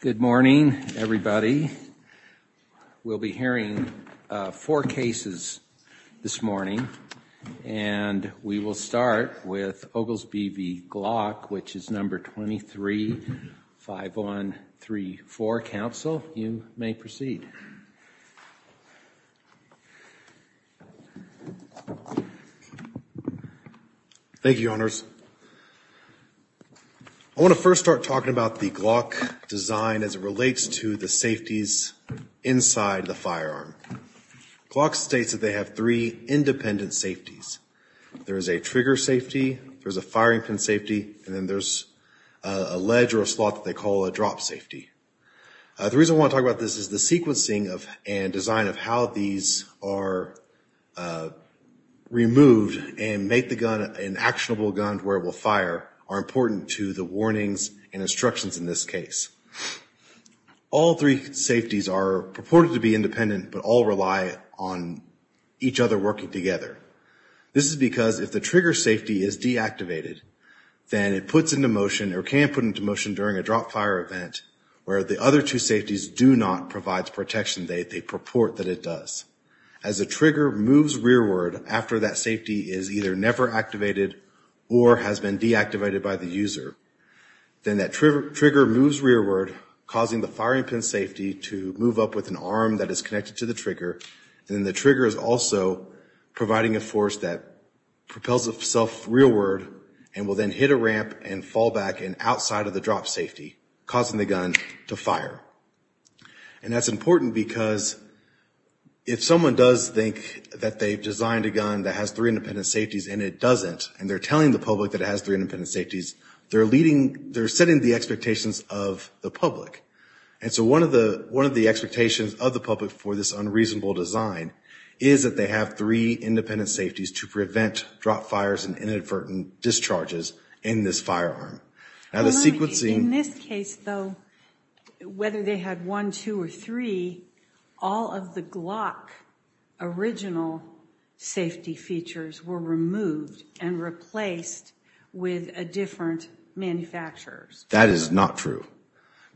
Good morning everybody. We'll be hearing four cases this morning and we will start with Oglesbee v. Glock, which is number 23-5134. Council, you may proceed. Thank you, Your Honors. I want to first start talking about the Glock design as it relates to the safeties inside the firearm. Glock states that they have three independent safeties. There is a trigger safety, there's a firing pin safety, and then there's a ledge or a slot that they call a drop safety. The reason I want to talk about this is the sequencing of and design of how these are removed and make the gun an actionable gun where it will fire are important to the warnings and instructions in this case. All three safeties are purported to be independent but all rely on each other working together. This is because if the trigger safety is deactivated, then it puts into motion or can put into motion during a drop-fire event where the other two safeties do not provide the protection they purport that it does. As the trigger moves rearward after that safety is either never activated or has been deactivated by the user, then that trigger moves rearward causing the firing pin safety to move up with an arm that is connected to the trigger, and then the trigger is also providing a force that propels itself rearward and will then hit a ramp and fall back and outside of the drop safety causing the gun to fire. And that's important because if someone does think that they've designed a gun that has three independent safeties and it doesn't, and they're telling the public that it has three independent safeties, they're leading they're setting the expectations of the public. And so one of the one of the expectations of the public for this unreasonable design is that they have three independent safeties to prevent drop fires and inadvertent discharges in this firearm. Now the sequencing... In this case though, whether they had one, two, or three, all of the Glock original safety features were removed and replaced with a different manufacturer's. That is not true.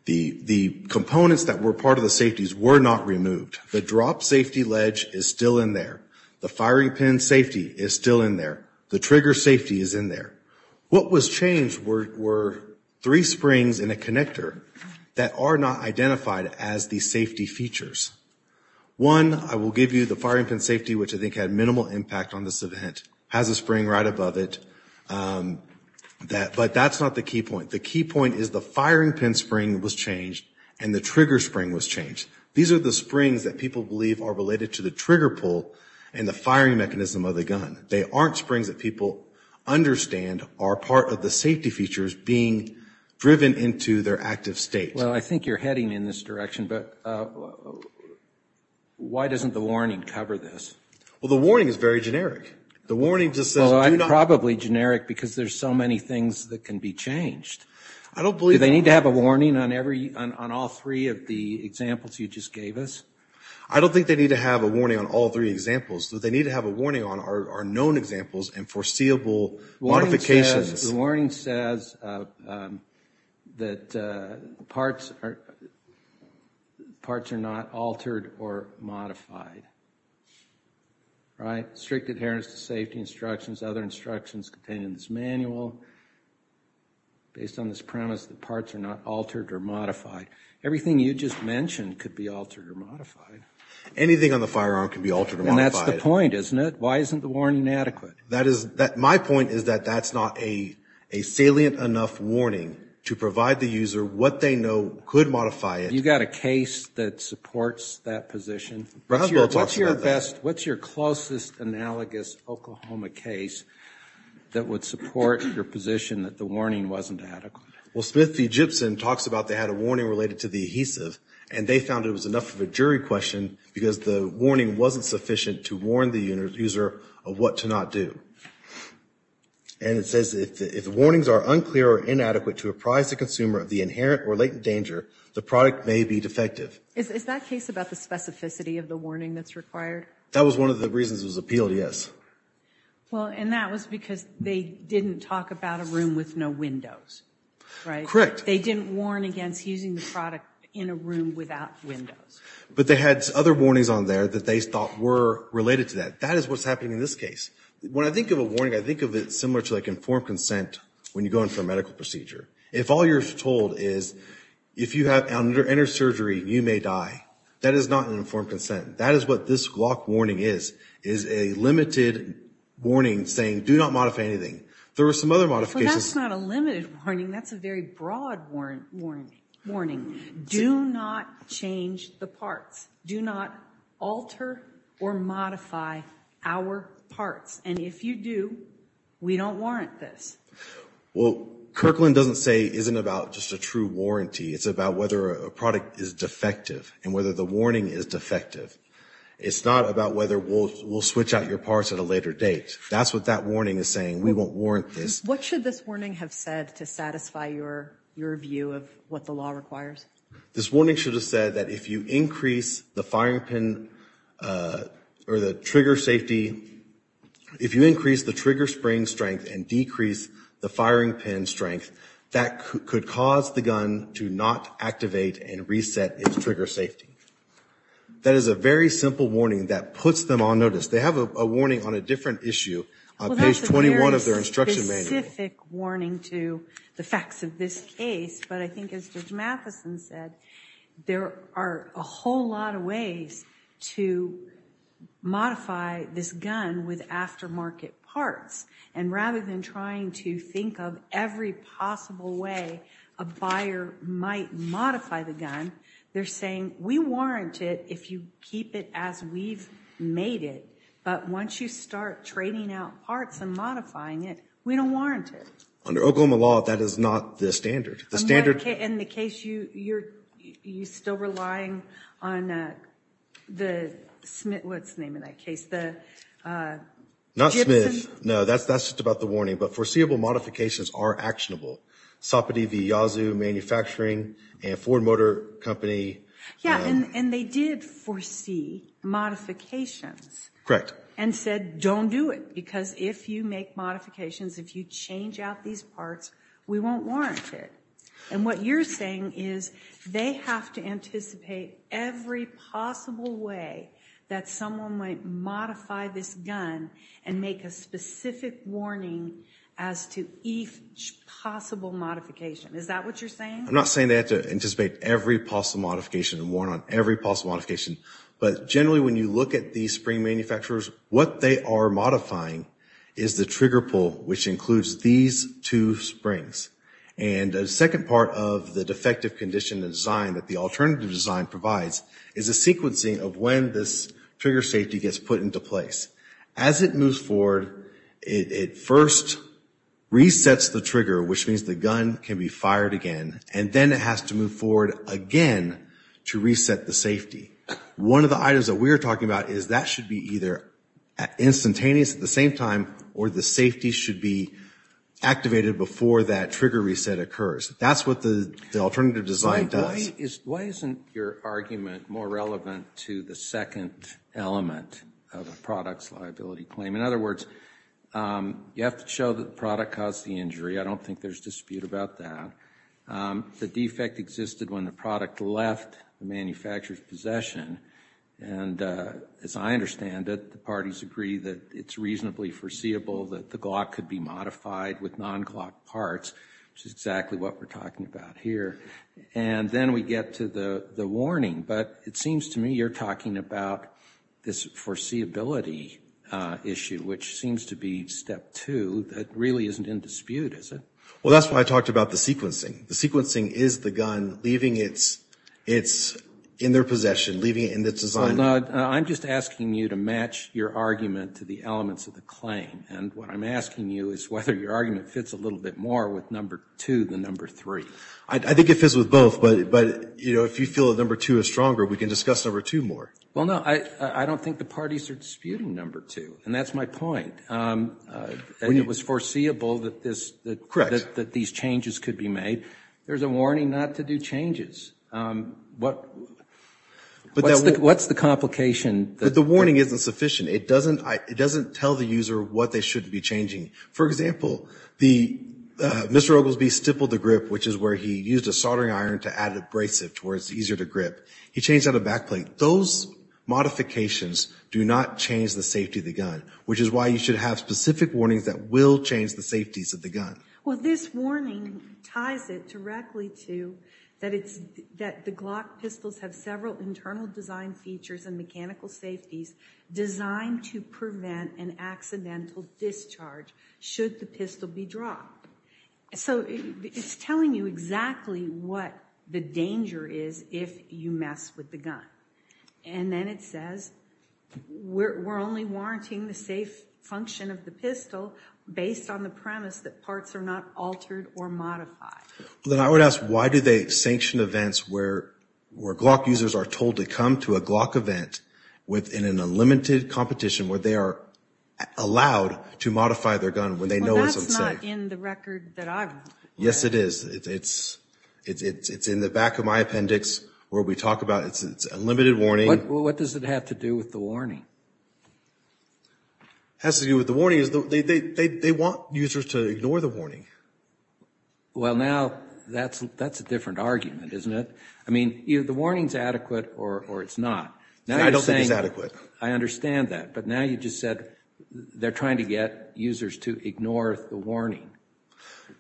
The the components that were part of the safeties were not removed. The drop safety ledge is still in there. The trigger safety is in there. What was changed were three springs in a connector that are not identified as the safety features. One, I will give you the firing pin safety, which I think had minimal impact on this event. It has a spring right above it. But that's not the key point. The key point is the firing pin spring was changed and the trigger spring was changed. These are the springs that people believe are related to the trigger pull and the firing mechanism of the gun. They aren't springs that people understand are part of the safety features being driven into their active state. Well, I think you're heading in this direction, but why doesn't the warning cover this? Well, the warning is very generic. The warning just says do not... Well, I'm probably generic because there's so many things that can be changed. I don't believe... Do they need to have a warning on every, on all three of the examples you just gave us? I don't think they need to have a warning on all three examples. What they need to have a warning on are known examples and foreseeable modifications. The warning says that parts are not altered or modified. Right? Strict adherence to safety instructions, other instructions contained in this manual, based on this premise that parts are not altered or modified. Everything you just mentioned could be altered or modified. Anything on the firearm could be altered or modified. And that's the point, isn't it? Why isn't the warning adequate? My point is that that's not a salient enough warning to provide the user what they know could modify it. You've got a case that supports that position. Roswell talks about that. What's your closest analogous Oklahoma case that would support your position that the warning wasn't adequate? Well, Smith v. Gibson talks about they had a warning related to the adhesive, and they found it was enough of a jury question because the warning wasn't sufficient to warn the user of what to not do. And it says if the warnings are unclear or inadequate to apprise the consumer of the inherent or latent danger, the product may be defective. Is that case about the specificity of the warning that's required? That was one of the reasons it was appealed, yes. Well, and that was because they didn't talk about a room with no windows, right? Correct. They didn't warn against using the product in a room without windows. But they had other warnings on there that they thought were related to that. That is what's happening in this case. When I think of a warning, I think of it similar to, like, informed consent when you go in for a medical procedure. If all you're told is if you have inner surgery, you may die, that is not an informed consent. That is what this Glock warning is, is a limited warning saying do not modify anything. There were some other modifications. But that's not a limited warning, that's a very broad warning. Do not change the parts. Do not alter or modify our parts. And if you do, we don't warrant this. Well, Kirkland doesn't say, isn't about just a true warranty, it's about whether a product is defective and whether the warning is defective. It's not about whether we'll switch out your parts at a later date. That's what that warning is saying. We won't warrant this. What should this warning have said to satisfy your view of what the law requires? This warning should have said that if you increase the firing pin or the trigger safety, if you increase the trigger spring strength and decrease the firing pin strength, that could cause the gun to not activate and reset its trigger safety. That is a very simple warning that puts them on notice. They have a warning on a different issue on page 21 of their instruction manual. Well, that's a very specific warning to the facts of this case. But I think as Judge Matheson said, there are a whole lot of ways to modify this gun with aftermarket parts. And rather than trying to think of every possible way a buyer might modify the gun, they're saying, we warrant it if you keep it as we've made it. But once you start trading out parts and modifying it, we don't warrant it. Under Oklahoma law, that is not the standard. The standard... In the case, you're still relying on the Smith, what's the name of that case, the... Not Smith. Smith. No, that's just about the warning. But foreseeable modifications are actionable. Soppity v. Yazoo Manufacturing and Ford Motor Company. Yeah, and they did foresee modifications and said, don't do it. Because if you make modifications, if you change out these parts, we won't warrant it. And what you're saying is they have to anticipate every possible way that someone might modify this gun and make a specific warning as to each possible modification. Is that what you're saying? I'm not saying they have to anticipate every possible modification and warrant on every possible modification. But generally, when you look at these spring manufacturers, what they are modifying is the trigger pull, which includes these two springs. And the second part of the defective condition design that the alternative design provides is a sequencing of when this trigger safety gets put into place. As it moves forward, it first resets the trigger, which means the gun can be fired again, and then it has to move forward again to reset the safety. One of the items that we are talking about is that should be either instantaneous at the same time, or the safety should be activated before that trigger reset occurs. That's what the alternative design does. Why isn't your argument more relevant to the second element of a product's liability claim? In other words, you have to show that the product caused the injury. I don't think there's dispute about that. The defect existed when the product left the manufacturer's possession. And as I understand it, the parties agree that it's reasonably foreseeable that the Glock could be modified with non-Glock parts, which is exactly what we're talking about here. And then we get to the warning. But it seems to me you're talking about this foreseeability issue, which seems to be step two. That really isn't in dispute, is it? Well, that's why I talked about the sequencing. The sequencing is the gun leaving it in their possession, leaving it in its design. I'm just asking you to match your argument to the elements of the claim. And what I'm asking you is whether your argument fits a little bit more with number two than number three. I think it fits with both, but if you feel that number two is stronger, we can discuss number two more. Well, no. I don't think the parties are disputing number two. And that's my point. It was foreseeable that these changes could be made. There's a warning not to do changes. What's the complication? The warning isn't sufficient. It doesn't tell the user what they shouldn't be changing. For example, Mr. Oglesby stippled the grip, which is where he used a soldering iron to add abrasive to where it's easier to grip. He changed out a back plate. Those modifications do not change the safety of the gun, which is why you should have specific warnings that will change the safeties of the gun. Well, this warning ties it directly to that the Glock pistols have several internal design features and mechanical safeties designed to prevent an accidental discharge should the pistol be dropped. So it's telling you exactly what the danger is if you mess with the gun. And then it says we're only warranting the safe function of the pistol based on the premise that parts are not altered or modified. Then I would ask why do they sanction events where Glock users are told to come to a Glock event within an unlimited competition where they are allowed to modify their gun when they know it's unsafe? Well, that's not in the record that I have. Yes, it is. It's in the back of my appendix where we talk about it's unlimited warning. What does it have to do with the warning? It has to do with the warning. They want users to ignore the warning. Well, now that's a different argument, isn't it? I mean, the warning is adequate or it's not. I don't think it's adequate. I understand that. But now you just said they're trying to get users to ignore the warning.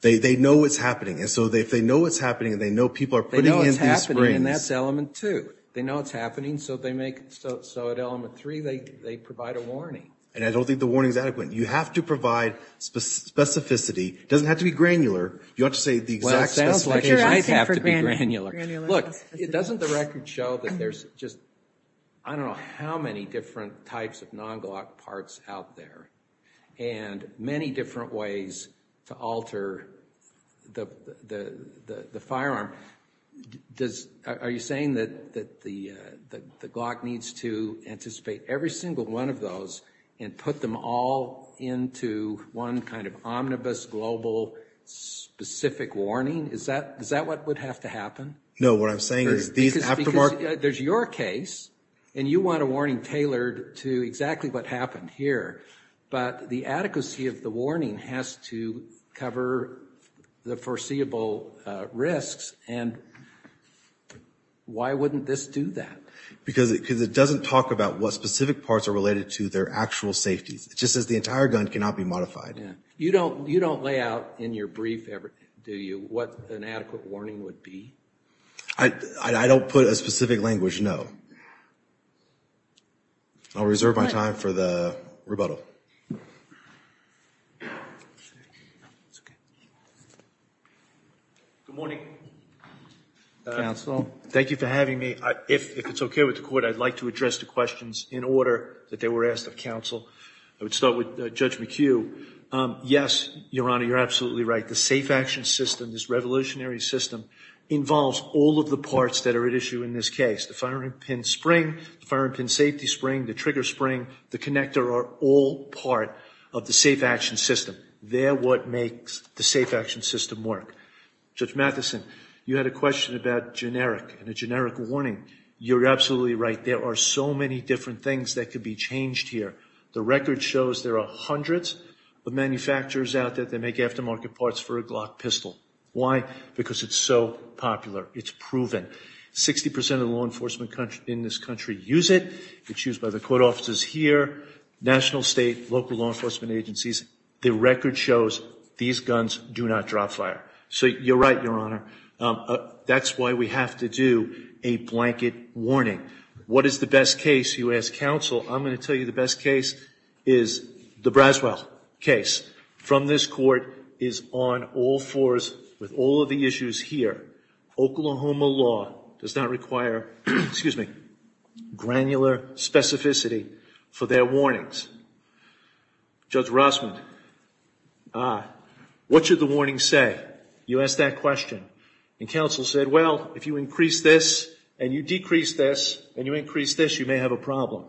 They know it's happening. And so if they know it's happening and they know people are putting in these springs. They know it's happening and that's element two. They know it's happening so at element three they provide a warning. And I don't think the warning is adequate. You have to provide specificity. It doesn't have to be granular. You don't have to say the exact specification. Well, it sounds like it might have to be granular. Look, doesn't the record show that there's just I don't know how many different types of non-Glock parts out there and many different ways to alter the firearm? Are you saying that the Glock needs to anticipate every single one of those and put them all into one kind of omnibus global specific warning? Is that what would have to happen? No. What I'm saying is these aftermarks. Because there's your case and you want a warning tailored to exactly what happened here. But the adequacy of the warning has to cover the foreseeable risks. And why wouldn't this do that? Because it doesn't talk about what specific parts are related to their actual safety. It just says the entire gun cannot be modified. You don't lay out in your brief, do you, what an adequate warning would be? I don't put a specific language, no. I'll reserve my time for the rebuttal. Good morning, counsel. Thank you for having me. If it's okay with the court, I'd like to address the questions in order that they were asked of counsel. I would start with Judge McHugh. Yes, Your Honor, you're absolutely right. The safe action system, this revolutionary system, involves all of the parts that are at issue in this case. The firearm pin spring, the firearm pin safety spring, the trigger spring, the connector are all part of the safe action system. They're what makes the safe action system work. Judge Matheson, you had a question about generic and a generic warning. You're absolutely right. There are so many different things that could be changed here. The record shows there are hundreds of manufacturers out there that make aftermarket parts for a Glock pistol. Why? Because it's so popular. It's proven. Sixty percent of the law enforcement in this country use it. It's used by the court offices here, national, state, local law enforcement agencies. The record shows these guns do not drop fire. So you're right, Your Honor. That's why we have to do a blanket warning. What is the best case, you ask counsel. I'm going to tell you the best case is the Braswell case. From this court is on all fours with all of the issues here. Oklahoma law does not require granular specificity for their warnings. Judge Rossman, what should the warning say? You asked that question. And counsel said, well, if you increase this and you decrease this and you increase this, you may have a problem.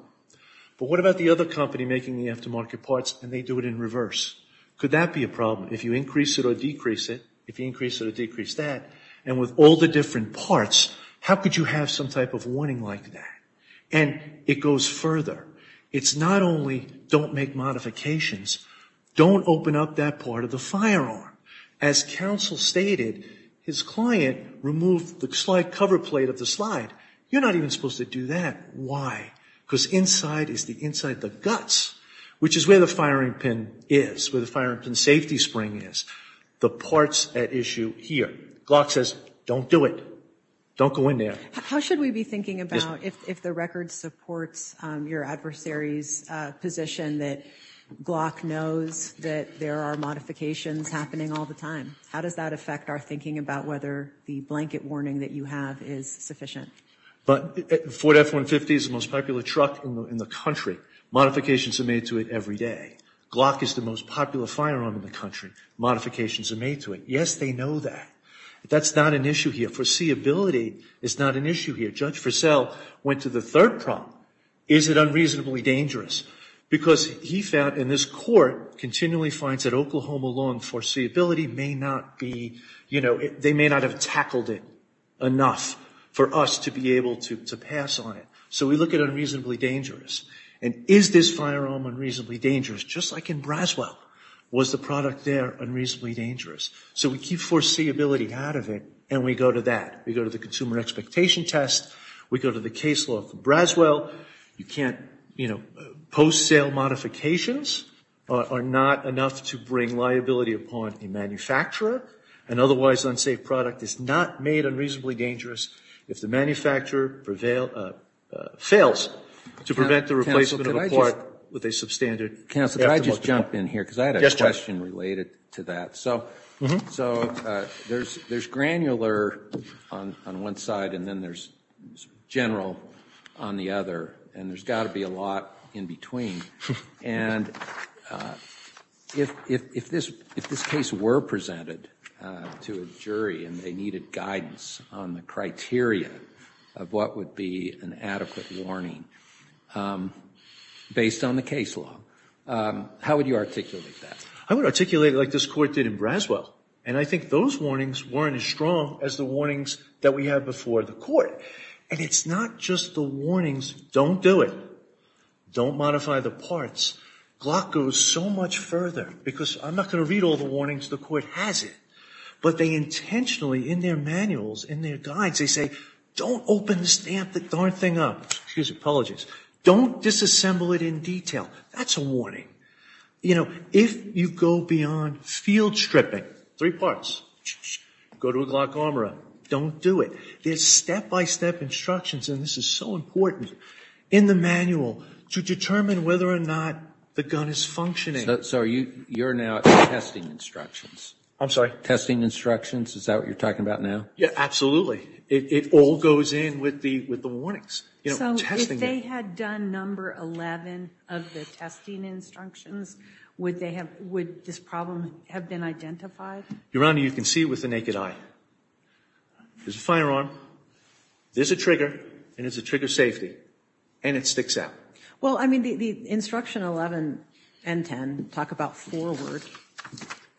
But what about the other company making the aftermarket parts and they do it in reverse? Could that be a problem if you increase it or decrease it? If you increase it or decrease that? And with all the different parts, how could you have some type of warning like that? And it goes further. It's not only don't make modifications. Don't open up that part of the firearm. As counsel stated, his client removed the slide cover plate of the slide. You're not even supposed to do that. Why? Because inside is the inside, the guts, which is where the firing pin is, where the firing pin safety spring is, the parts at issue here. Glock says don't do it. Don't go in there. How should we be thinking about if the record supports your adversary's position that Glock knows that there are modifications happening all the time? How does that affect our thinking about whether the blanket warning that you have is sufficient? But the Ford F-150 is the most popular truck in the country. Modifications are made to it every day. Glock is the most popular firearm in the country. Modifications are made to it. Yes, they know that. That's not an issue here. Foreseeability is not an issue here. Judge Frisell went to the third problem. Is it unreasonably dangerous? Because he found, and this court continually finds that Oklahoma law on foreseeability may not be, you know, they may not have tackled it enough for us to be able to pass on it. So we look at unreasonably dangerous. And is this firearm unreasonably dangerous? Just like in Braswell, was the product there unreasonably dangerous? So we keep foreseeability out of it, and we go to that. We go to the consumer expectation test. We go to the case law for Braswell. You can't, you know, post-sale modifications are not enough to bring liability upon a manufacturer. An otherwise unsafe product is not made unreasonably dangerous if the manufacturer fails to prevent the replacement of a part with a substandard aftermarket. Counsel, can I just jump in here? Because I had a question related to that. So there's granular on one side, and then there's general on the other, and there's got to be a lot in between. And if this case were presented to a jury and they needed guidance on the criteria of what would be an adequate warning based on the case law, how would you articulate that? I would articulate it like this court did in Braswell, and I think those warnings weren't as strong as the warnings that we had before the court. And it's not just the warnings, don't do it, don't modify the parts. Glock goes so much further, because I'm not going to read all the warnings. The court has it. But they intentionally, in their manuals, in their guides, they say, don't open the stamp, the darn thing up. Excuse me, apologies. Don't disassemble it in detail. That's a warning. If you go beyond field stripping, three parts, go to a Glock armor up, don't do it. There's step-by-step instructions, and this is so important, in the manual to determine whether or not the gun is functioning. Sorry, you're now at testing instructions. I'm sorry? Testing instructions, is that what you're talking about now? Yeah, absolutely. It all goes in with the warnings. So if they had done number 11 of the testing instructions, would this problem have been identified? Your Honor, you can see it with the naked eye. There's a firearm, there's a trigger, and there's a trigger safety, and it sticks out. Well, I mean, the instruction 11 and 10 talk about forward,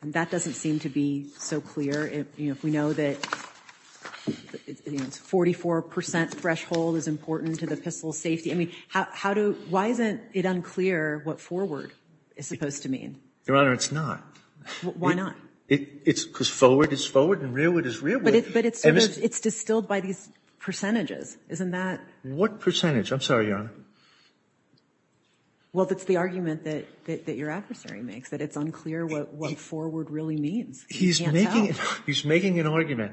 and that doesn't seem to be so clear. If we know that 44% threshold is important to the pistol's safety, I mean, how do you why isn't it unclear what forward is supposed to mean? Your Honor, it's not. Why not? Because forward is forward and rearward is rearward. But it's distilled by these percentages, isn't that? What percentage? I'm sorry, Your Honor. Well, that's the argument that your adversary makes, that it's unclear what forward really means. He's making an argument.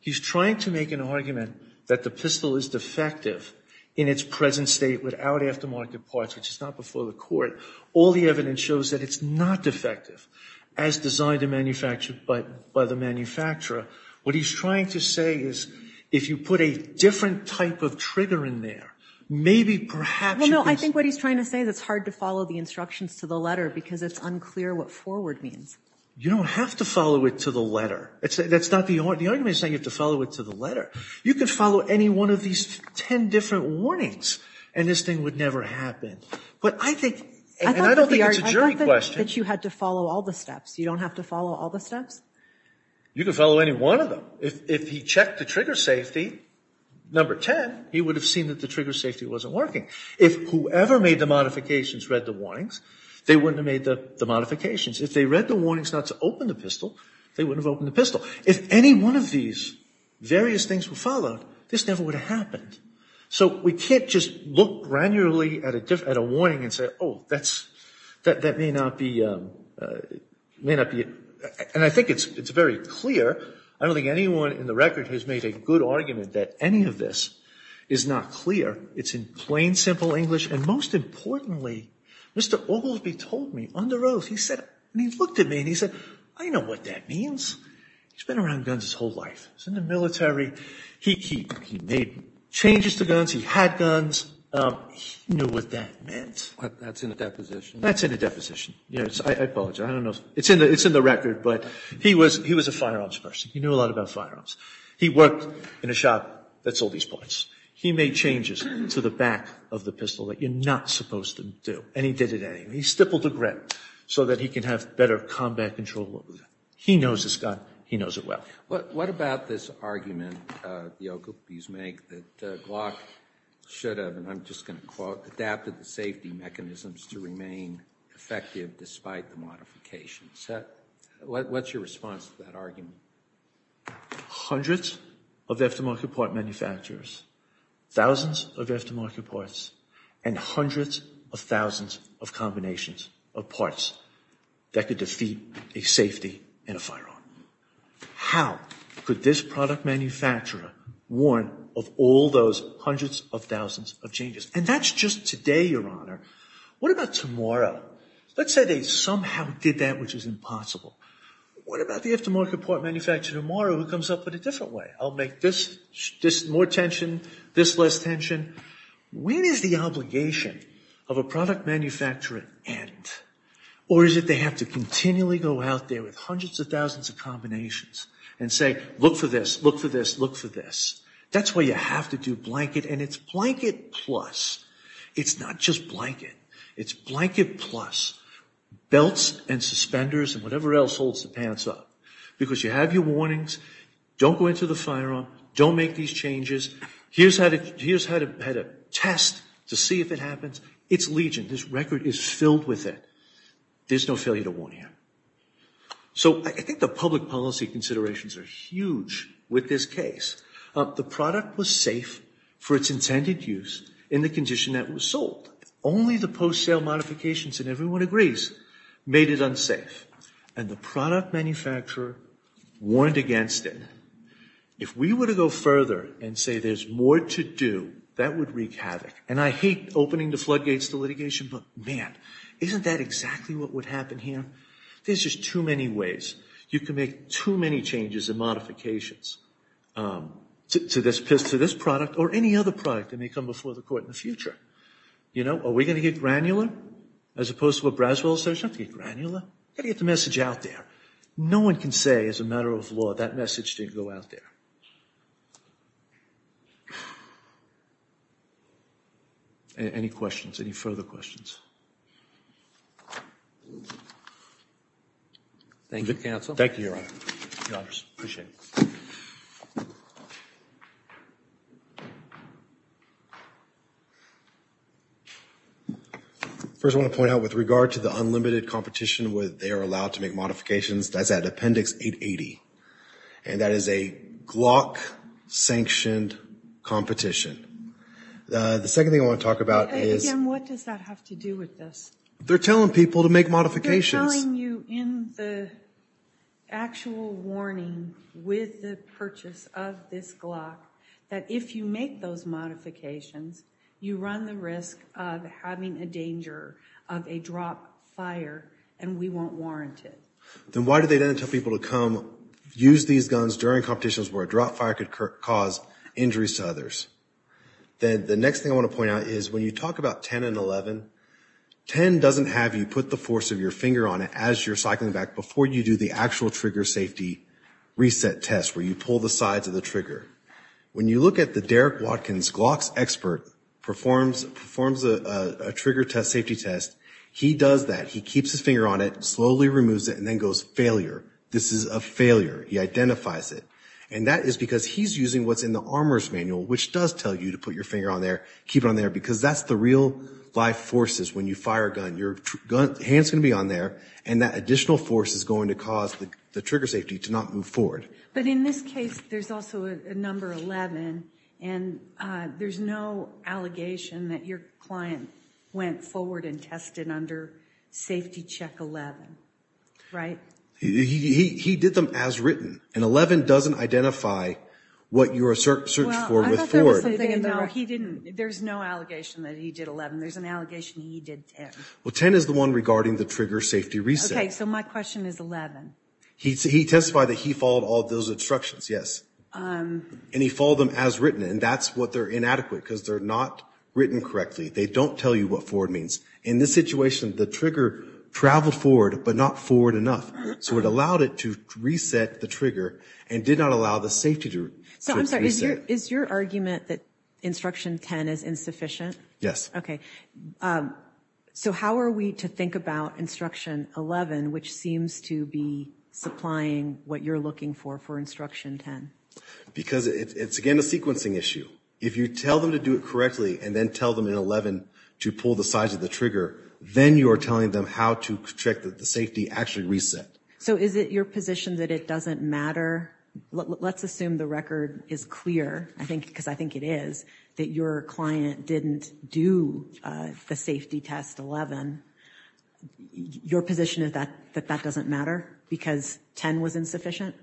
He's trying to make an argument that the pistol is defective in its present state without aftermarket parts, which is not before the court. All the evidence shows that it's not defective, as designed and manufactured by the manufacturer. What he's trying to say is if you put a different type of trigger in there, maybe perhaps you can see. Well, no, I think what he's trying to say is it's hard to follow the instructions to the letter because it's unclear what forward means. You don't have to follow it to the letter. That's not the argument. The argument is saying you have to follow it to the letter. You can follow any one of these ten different warnings, and this thing would never happen. But I think, and I don't think it's a jury question. I thought that you had to follow all the steps. You don't have to follow all the steps? You can follow any one of them. If he checked the trigger safety, number 10, he would have seen that the trigger safety wasn't working. If whoever made the modifications read the warnings, they wouldn't have made the modifications. If they read the warnings not to open the pistol, they wouldn't have opened the pistol. If any one of these various things were followed, this never would have happened. So we can't just look granularly at a warning and say, oh, that may not be, and I think it's very clear. I don't think anyone in the record has made a good argument that any of this is not clear. It's in plain, simple English. And most importantly, Mr. Ogilvie told me under oath, he looked at me and he said, I know what that means. He's been around guns his whole life. He was in the military. He made changes to guns. He had guns. He knew what that meant. That's in the deposition. That's in the deposition. I apologize. I don't know. It's in the record, but he was a firearms person. He knew a lot about firearms. He worked in a shop that sold these parts. He made changes to the back of the pistol that you're not supposed to do, and he did it anyway. He stippled the grip so that he could have better combat control. He knows this gun. He knows it well. What about this argument, the Ogilvie's make, that Glock should have, and I'm just going to quote, adapted the safety mechanisms to remain effective despite the modifications? What's your response to that argument? Hundreds of aftermarket part manufacturers, thousands of aftermarket parts, and hundreds of thousands of combinations of parts that could defeat a safety in a firearm. How could this product manufacturer warn of all those hundreds of thousands of changes? And that's just today, Your Honor. What about tomorrow? Let's say they somehow did that, which is impossible. What about the aftermarket part manufacturer tomorrow who comes up with a different way? I'll make this more tension, this less tension. When is the obligation of a product manufacturer end? Or is it they have to continually go out there with hundreds of thousands of combinations and say, look for this, look for this, look for this? That's why you have to do blanket, and it's blanket plus. It's not just blanket. It's blanket plus belts and suspenders and whatever else holds the pants up, because you have your warnings. Don't go into the firearm. Don't make these changes. Here's how to test to see if it happens. It's legion. This record is filled with it. There's no failure to warn here. So I think the public policy considerations are huge with this case. The product was safe for its intended use in the condition that it was sold. Only the post-sale modifications, and everyone agrees, made it unsafe. And the product manufacturer warned against it. If we were to go further and say there's more to do, that would wreak havoc. And I hate opening the floodgates to litigation, but, man, isn't that exactly what would happen here? There's just too many ways. You can make too many changes and modifications to this product or any other product that may come before the court in the future. You know, are we going to get granular as opposed to what Braswell says? We don't have to get granular. We've got to get the message out there. No one can say as a matter of law that message didn't go out there. Any questions? Any further questions? Thank you, counsel. Thank you, Your Honor. I appreciate it. First, I want to point out with regard to the unlimited competition where they are allowed to make modifications, that's at Appendix 880. And that is a Glock-sanctioned competition. The second thing I want to talk about is... Again, what does that have to do with this? They're telling people to make modifications. They're telling you in the actual warning with the purchase of this Glock that if you make those modifications, you run the risk of having a danger of a drop, fire, and we won't warrant it. Then why do they then tell people to come use these guns during competitions where a drop, fire could cause injuries to others? Then the next thing I want to point out is when you talk about 10 and 11, 10 doesn't have you put the force of your finger on it as you're cycling back before you do the actual trigger safety reset test where you pull the sides of the trigger. When you look at the Derek Watkins Glock's expert performs a trigger safety test, he does that. He keeps his finger on it, slowly removes it, and then goes, failure. This is a failure. He identifies it. And that is because he's using what's in the armor's manual, which does tell you to put your finger on there, keep it on there, because that's the real-life forces when you fire a gun. Your hand's going to be on there, and that additional force is going to cause the trigger safety to not move forward. But in this case, there's also a number 11, and there's no allegation that your client went forward and tested under safety check 11, right? He did them as written, and 11 doesn't identify what you're searching for with Ford. Well, I thought there was something in the writing. No, he didn't. There's no allegation that he did 11. There's an allegation that he did 10. Well, 10 is the one regarding the trigger safety reset. Okay, so my question is 11. He testified that he followed all those instructions, yes. And he followed them as written, and that's what they're inadequate, because they're not written correctly. They don't tell you what Ford means. In this situation, the trigger traveled forward, but not forward enough. So it allowed it to reset the trigger and did not allow the safety to reset. So I'm sorry, is your argument that instruction 10 is insufficient? Yes. Okay. So how are we to think about instruction 11, which seems to be supplying what you're looking for for instruction 10? Because it's, again, a sequencing issue. If you tell them to do it correctly and then tell them in 11 to pull the sides of the trigger, then you are telling them how to check that the safety actually reset. So is it your position that it doesn't matter? Let's assume the record is clear, because I think it is, that your client didn't do the safety test 11. Your position is that that doesn't matter because 10 was insufficient?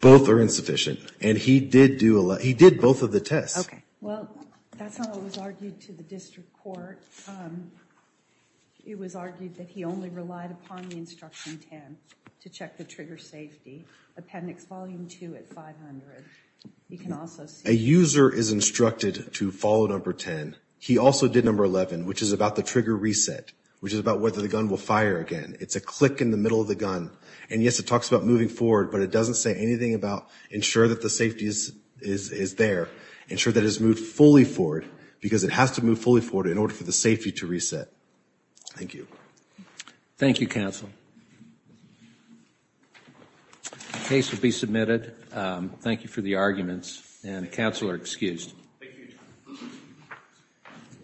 Both are insufficient, and he did both of the tests. Okay. Well, that's not what was argued to the district court. It was argued that he only relied upon the instruction 10 to check the trigger safety, appendix volume 2 at 500. A user is instructed to follow number 10. He also did number 11, which is about the trigger reset, which is about whether the gun will fire again. It's a click in the middle of the gun. And, yes, it talks about moving forward, but it doesn't say anything about ensure that the safety is there, ensure that it's moved fully forward, because it has to move fully forward in order for the safety to reset. Thank you. Thank you, counsel. The case will be submitted. Thank you for the arguments, and counsel are excused. Thank you.